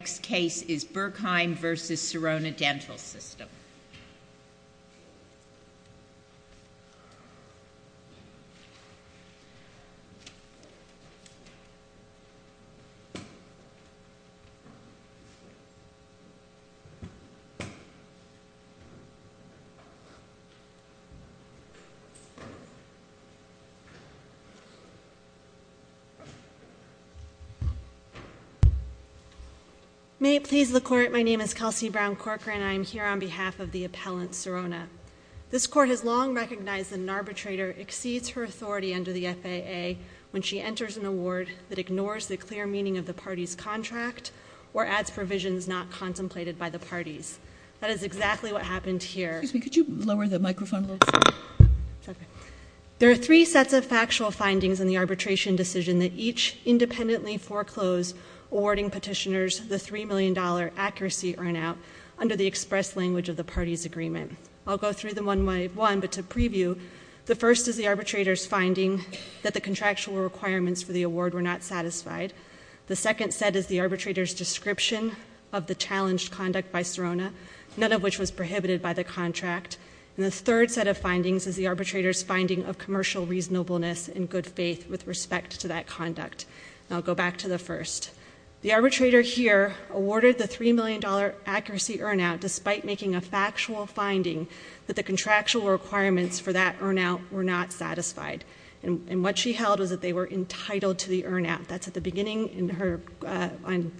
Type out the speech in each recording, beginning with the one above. The next case is Berkheim v. Sirona Dental System. May it please the Court, my name is Kelsey Brown Corcoran and I am here on behalf of the appellant Sirona. This Court has long recognized that an arbitrator exceeds her authority under the FAA when she enters an award that ignores the clear meaning of the party's contract or adds provisions not contemplated by the parties. That is exactly what happened here. Excuse me, could you lower the microphone a little bit? There are three sets of factual findings in the arbitration decision that each independently foreclosed awarding petitioners the $3 million accuracy earn out under the express language of the party's agreement. I'll go through them one by one, but to preview, the first is the arbitrator's finding that the contractual requirements for the award were not satisfied. The second set is the arbitrator's description of the challenged conduct by Sirona, none of which was prohibited by the contract. And the third set of findings is the arbitrator's finding of commercial reasonableness and good faith with respect to that conduct. I'll go back to the first. The arbitrator here awarded the $3 million accuracy earn out despite making a factual finding that the contractual requirements for that earn out were not satisfied. And what she held was that they were entitled to the earn out. That's at the beginning on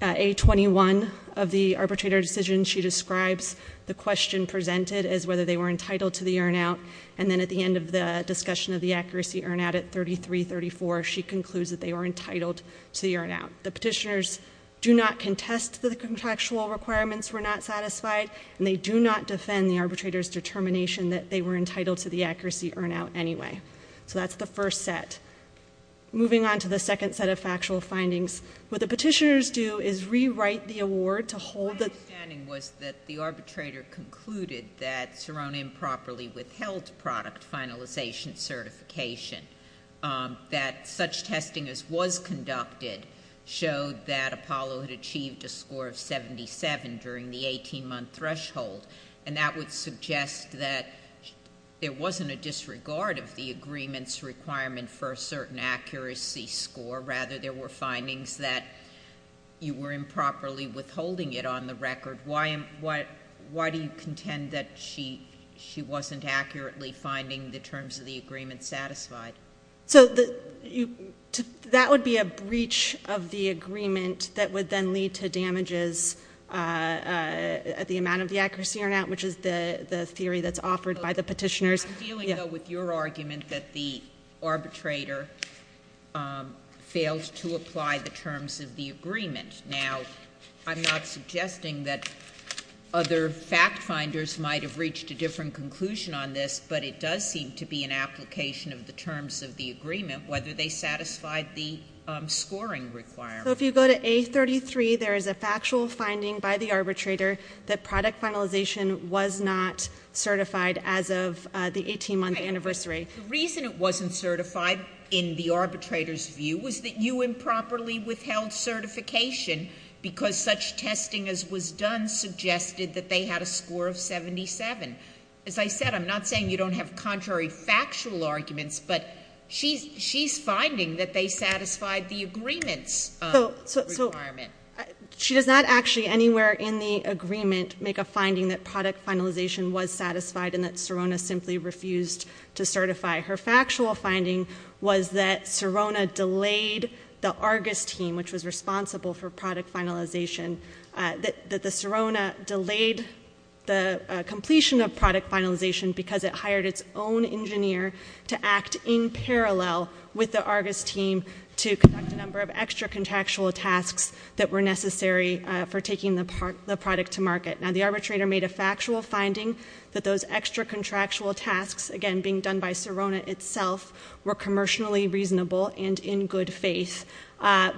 A21 of the arbitrator decision. She describes the question presented as whether they were entitled to the earn out and then at the end of the discussion of the accuracy earn out at 33-34, she concludes that they were entitled to the earn out. The petitioners do not contest that the contractual requirements were not satisfied and they do not defend the arbitrator's determination that they were entitled to the accuracy earn out anyway. So that's the first set. Moving on to the second set of factual findings, what the petitioners do is rewrite the award to hold the My understanding was that the arbitrator concluded that Sirona improperly withheld product finalization certification, that such testing as was conducted showed that Apollo had achieved a score of 77 during the 18-month threshold, and that would suggest that there wasn't a disregard of the agreement's requirement for a certain accuracy score. Rather, there were findings that you were improperly withholding it on the record. Why do you contend that she wasn't accurately finding the terms of the agreement satisfied? So that would be a breach of the agreement that would then lead to damages at the amount of the accuracy earn out, which is the theory that's offered by the petitioners. I'm dealing, though, with your argument that the arbitrator failed to apply the terms of the agreement. Now, I'm not suggesting that other fact-finders might have reached a different conclusion on this, but it does seem to be an application of the terms of the agreement, whether they satisfied the scoring requirement. So if you go to A33, there is a factual finding by the arbitrator that product finalization was not certified as of the 18-month anniversary. The reason it wasn't certified, in the arbitrator's view, was that you improperly withheld certification because such testing as was done suggested that they had a score of 77. As I said, I'm not saying you don't have contrary factual arguments, but she's finding that they satisfied the agreement's requirement. She does not actually anywhere in the agreement make a finding that product finalization was satisfied and that Serona simply refused to certify. Her factual finding was that Serona delayed the Argus team, which was responsible for product finalization, that the Serona delayed the completion of product finalization because it hired its own engineer to act in parallel with the Argus team to conduct a number of extra contractual tasks that were necessary for taking the product to market. Now, the arbitrator made a factual finding that those extra contractual tasks, again, being done by Serona itself, were commercially reasonable and in good faith,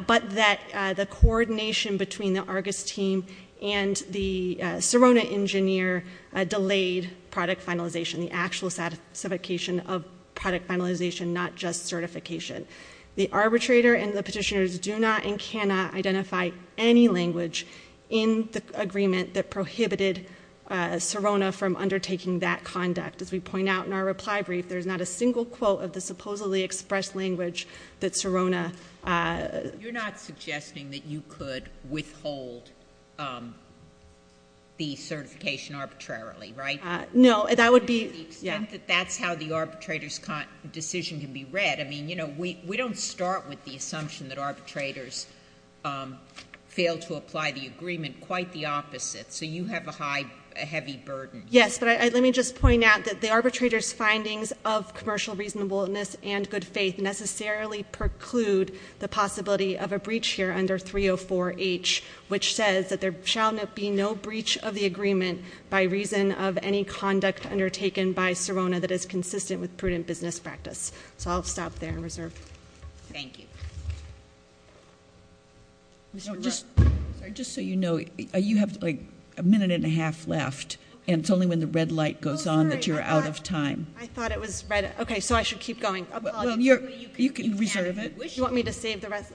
but that the coordination between the Argus team and the Serona engineer delayed product finalization, the actual certification of product finalization, not just certification. The arbitrator and the petitioners do not and cannot identify any language in the agreement that prohibited Serona from undertaking that conduct. As we point out in our reply brief, there's not a single quote of the supposedly expressed language that Serona— You're not suggesting that you could withhold the certification arbitrarily, right? No, that would be— To the extent that that's how the arbitrator's decision can be read. I mean, you know, we don't start with the assumption that arbitrators fail to apply the agreement. Quite the opposite. So you have a heavy burden. Yes, but let me just point out that the arbitrator's findings of commercial reasonableness and good faith necessarily preclude the possibility of a breach here under 304H, which says that there shall be no breach of the agreement by reason of any conduct undertaken by Serona that is consistent with prudent business practice. So I'll stop there and reserve. Thank you. Just so you know, you have, like, a minute and a half left, and it's only when the red light goes on that you're out of time. I thought it was red. Okay, so I should keep going. You can reserve it. You want me to save the rest?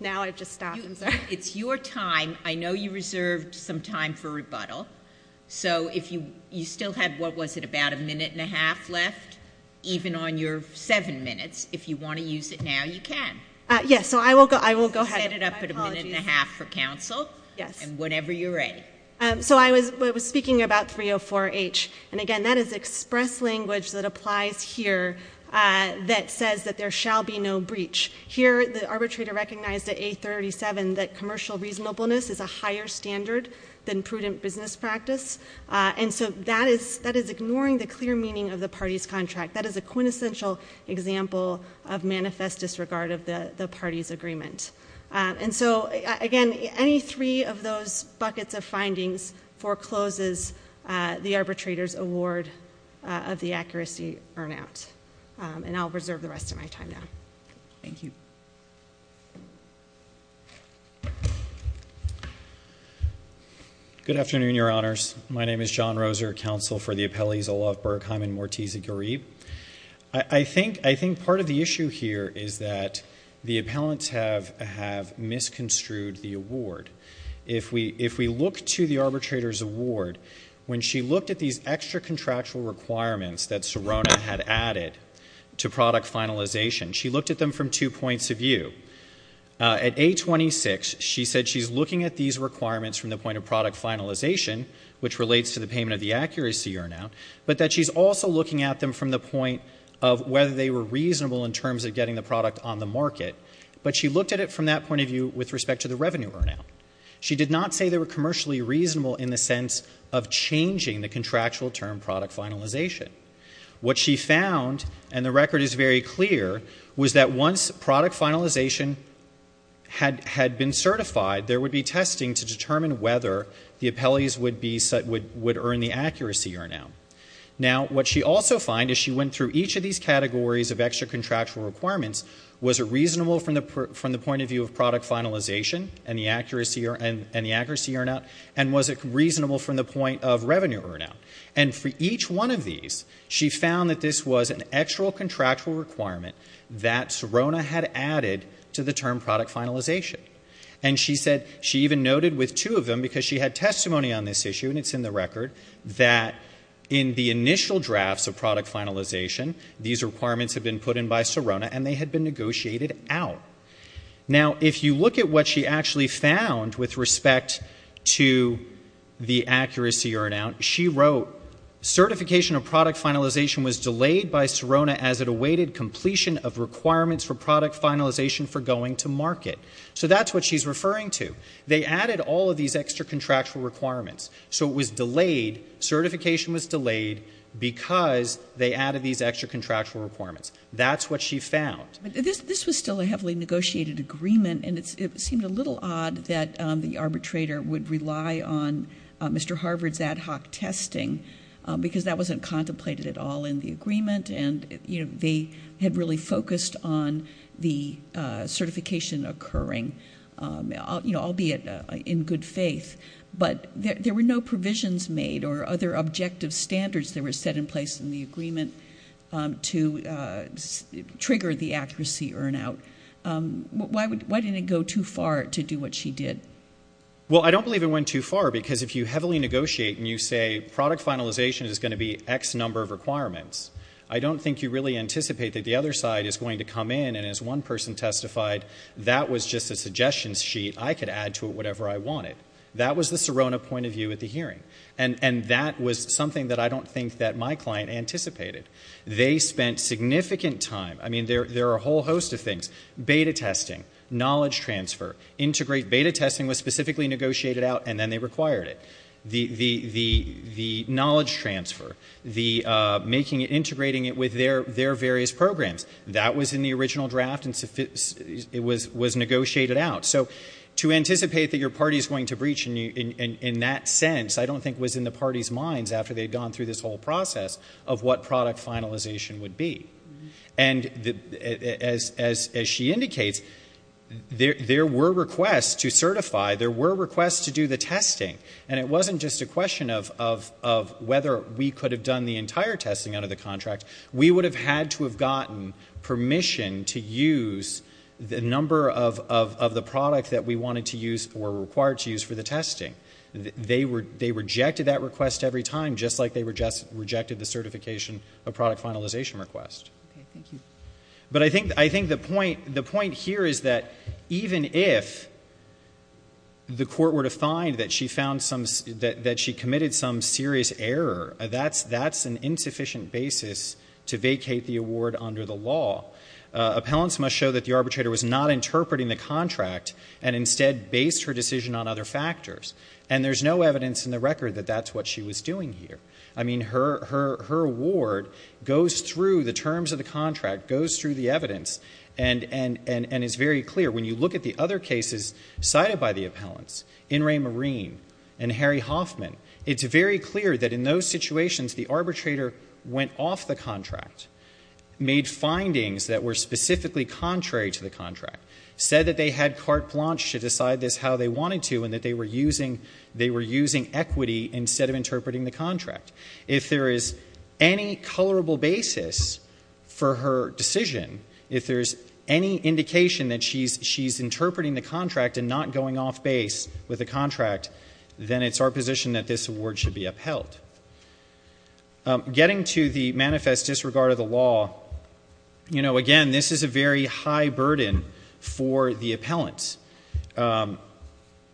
Now I've just stopped. It's your time. I know you reserved some time for rebuttal. So you still had, what was it, about a minute and a half left? Even on your seven minutes, if you want to use it now, you can. Yes, so I will go ahead. Set it up at a minute and a half for counsel. Yes. And whenever you're ready. So I was speaking about 304H. And, again, that is express language that applies here that says that there shall be no breach. Here the arbitrator recognized at 837 that commercial reasonableness is a higher standard than prudent business practice. And so that is ignoring the clear meaning of the party's contract. That is a quintessential example of manifest disregard of the party's agreement. And so, again, any three of those buckets of findings forecloses the arbitrator's award of the accuracy burnout. And I'll reserve the rest of my time now. Thank you. Good afternoon, Your Honors. My name is John Roser, counsel for the appellees Olaf Bergheim and Morticia Garib. I think part of the issue here is that the appellants have misconstrued the award. If we look to the arbitrator's award, when she looked at these extra contractual requirements that Sirona had added to product finalization, she looked at them from two points of view. At 826, she said she's looking at these requirements from the point of product finalization, which relates to the payment of the accuracy burnout, but that she's also looking at them from the point of whether they were reasonable in terms of getting the product on the market. But she looked at it from that point of view with respect to the revenue burnout. She did not say they were commercially reasonable in the sense of changing the contractual term product finalization. What she found, and the record is very clear, was that once product finalization had been certified, there would be testing to determine whether the appellees would earn the accuracy burnout. Now, what she also found is she went through each of these categories of extra contractual requirements. Was it reasonable from the point of view of product finalization and the accuracy burnout? And was it reasonable from the point of revenue burnout? And for each one of these, she found that this was an extra contractual requirement that Sirona had added to the term product finalization. And she said she even noted with two of them, because she had testimony on this issue, and it's in the record, that in the initial drafts of product finalization, these requirements had been put in by Sirona and they had been negotiated out. Now, if you look at what she actually found with respect to the accuracy burnout, she wrote, certification of product finalization was delayed by Sirona as it awaited completion of requirements for product finalization for going to market. So that's what she's referring to. They added all of these extra contractual requirements, so it was delayed, certification was delayed because they added these extra contractual requirements. That's what she found. But this was still a heavily negotiated agreement, and it seemed a little odd that the arbitrator would rely on Mr. Harvard's ad hoc testing because that wasn't contemplated at all in the agreement, and they had really focused on the certification occurring, albeit in good faith. But there were no provisions made or other objective standards that were set in place in the agreement to trigger the accuracy burnout. Why didn't it go too far to do what she did? Well, I don't believe it went too far because if you heavily negotiate and you say product finalization is going to be X number of requirements, I don't think you really anticipate that the other side is going to come in and as one person testified, that was just a suggestion sheet. I could add to it whatever I wanted. That was the Sirona point of view at the hearing, and that was something that I don't think that my client anticipated. They spent significant time. I mean, there are a whole host of things. Beta testing, knowledge transfer, integrate beta testing was specifically negotiated out and then they required it. The knowledge transfer, integrating it with their various programs, that was in the original draft and it was negotiated out. So to anticipate that your party is going to breach in that sense, I don't think was in the party's minds after they had gone through this whole process of what product finalization would be. And as she indicates, there were requests to certify, there were requests to do the testing, and it wasn't just a question of whether we could have done the entire testing under the contract. We would have had to have gotten permission to use the number of the product that we wanted to use or were required to use for the testing. They rejected that request every time, just like they rejected the certification of product finalization request. But I think the point here is that even if the court were to find that she committed some serious error, that's an insufficient basis to vacate the award under the law. Appellants must show that the arbitrator was not interpreting the contract and instead based her decision on other factors. And there's no evidence in the record that that's what she was doing here. I mean, her award goes through the terms of the contract, goes through the evidence, and is very clear. When you look at the other cases cited by the appellants, In re Marine and Harry Hoffman, it's very clear that in those situations the arbitrator went off the contract, made findings that were specifically contrary to the contract, said that they had carte blanche to decide this how they wanted to and that they were using equity instead of interpreting the contract. If there is any colorable basis for her decision, if there's any indication that she's interpreting the contract and not going off base with the contract, then it's our position that this award should be upheld. Getting to the manifest disregard of the law, again, this is a very high burden for the appellants.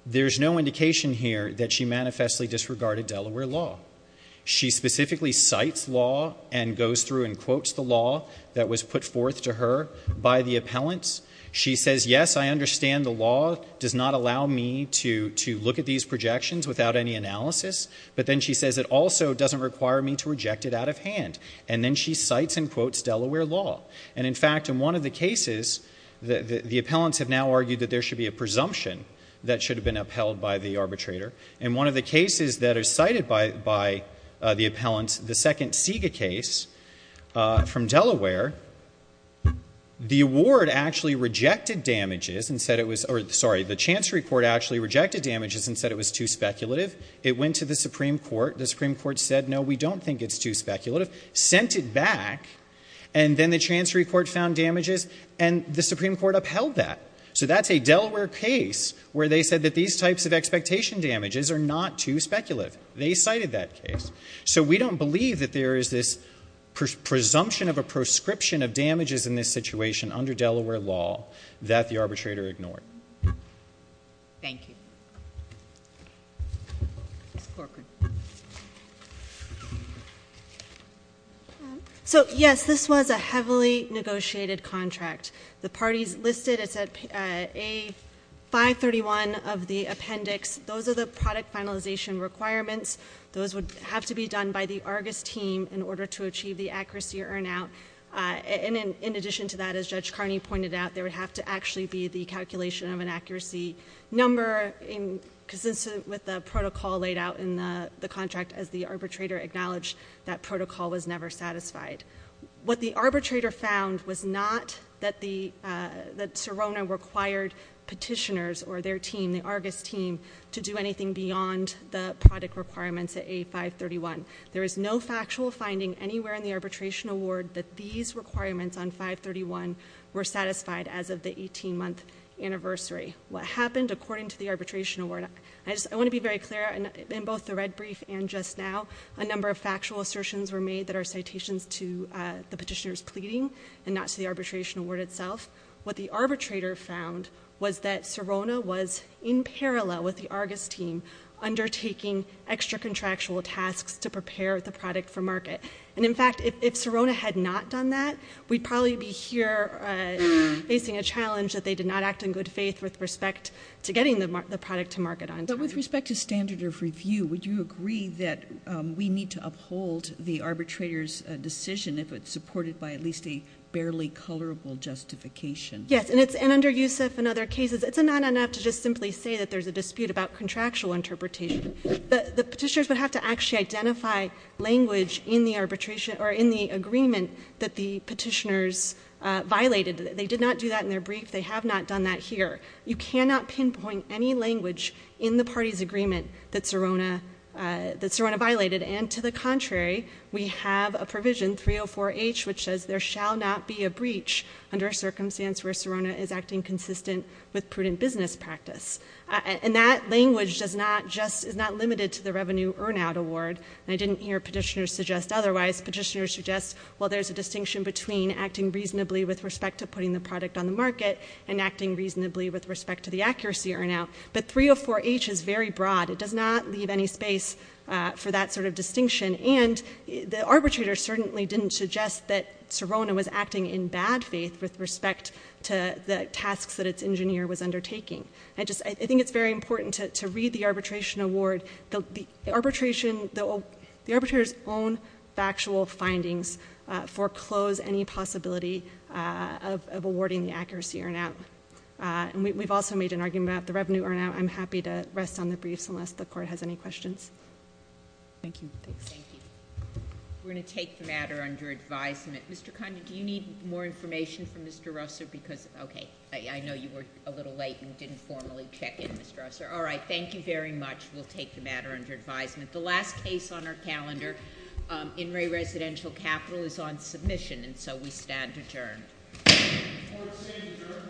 There's no indication here that she manifestly disregarded Delaware law. She specifically cites law and goes through and quotes the law that was put forth to her by the appellants. She says, yes, I understand the law does not allow me to look at these projections without any analysis, but then she says it also doesn't require me to reject it out of hand. And then she cites and quotes Delaware law. And, in fact, in one of the cases, the appellants have now argued that there should be a presumption that should have been upheld by the arbitrator. And one of the cases that are cited by the appellants, the second SIGA case from Delaware, the award actually rejected damages and said it was... Sorry, the Chancery Court actually rejected damages and said it was too speculative. It went to the Supreme Court. The Supreme Court said, no, we don't think it's too speculative, sent it back, and then the Chancery Court found damages. And the Supreme Court upheld that. So that's a Delaware case where they said that these types of expectation damages are not too speculative. They cited that case. So we don't believe that there is this presumption of a prescription of damages in this situation under Delaware law that the arbitrator ignored. Thank you. Ms. Corcoran. So, yes, this was a heavily negotiated contract. The parties listed, it's at A531 of the appendix. Those are the product finalization requirements. Those would have to be done by the Argus team in order to achieve the accuracy or earn out. And in addition to that, as Judge Carney pointed out, there would have to actually be the calculation of an accuracy number consistent with the protocol laid out in the contract as the arbitrator acknowledged that protocol was never satisfied. What the arbitrator found was not that Sirona required petitioners or their team, the Argus team, to do anything beyond the product requirements at A531. There is no factual finding anywhere in the arbitration award that these requirements on 531 were satisfied as of the 18-month anniversary. What happened, according to the arbitration award, I want to be very clear, in both the red brief and just now, a number of factual assertions were made that are citations to the petitioners pleading and not to the arbitration award itself. What the arbitrator found was that Sirona was, in parallel with the Argus team, undertaking extra-contractual tasks to prepare the product for market. And, in fact, if Sirona had not done that, we'd probably be here facing a challenge that they did not act in good faith with respect to getting the product to market on time. But with respect to standard of review, would you agree that we need to uphold the arbitrator's decision if it's supported by at least a barely colorable justification? Yes, and under Youssef and other cases, it's not enough to just simply say that there's a dispute about contractual interpretation. The petitioners would have to actually identify language in the arbitration or in the agreement that the petitioners violated. They did not do that in their brief. They have not done that here. You cannot pinpoint any language in the party's agreement that Sirona violated. And, to the contrary, we have a provision, 304H, which says there shall not be a breach under a circumstance where Sirona is acting consistent with prudent business practice. And that language is not limited to the revenue earn-out award. And I didn't hear petitioners suggest otherwise. Petitioners suggest, well, there's a distinction between acting reasonably with respect to putting the product on the market and acting reasonably with respect to the accuracy earn-out. But 304H is very broad. It does not leave any space for that sort of distinction. And the arbitrator certainly didn't suggest that Sirona was acting in bad faith with respect to the tasks that its engineer was undertaking. I think it's very important to read the arbitration award. The arbitrator's own factual findings foreclose any possibility of awarding the accuracy earn-out. And we've also made an argument about the revenue earn-out. I'm happy to rest on the briefs unless the Court has any questions. Thank you. Thank you. We're going to take the matter under advisement. Mr. Condon, do you need more information from Mr. Russer? Because, okay, I know you were a little late and didn't formally check in, Mr. Russer. All right, thank you very much. We'll take the matter under advisement. The last case on our calendar in Ray Residential Capital is on submission, and so we stand adjourned. Court is adjourned.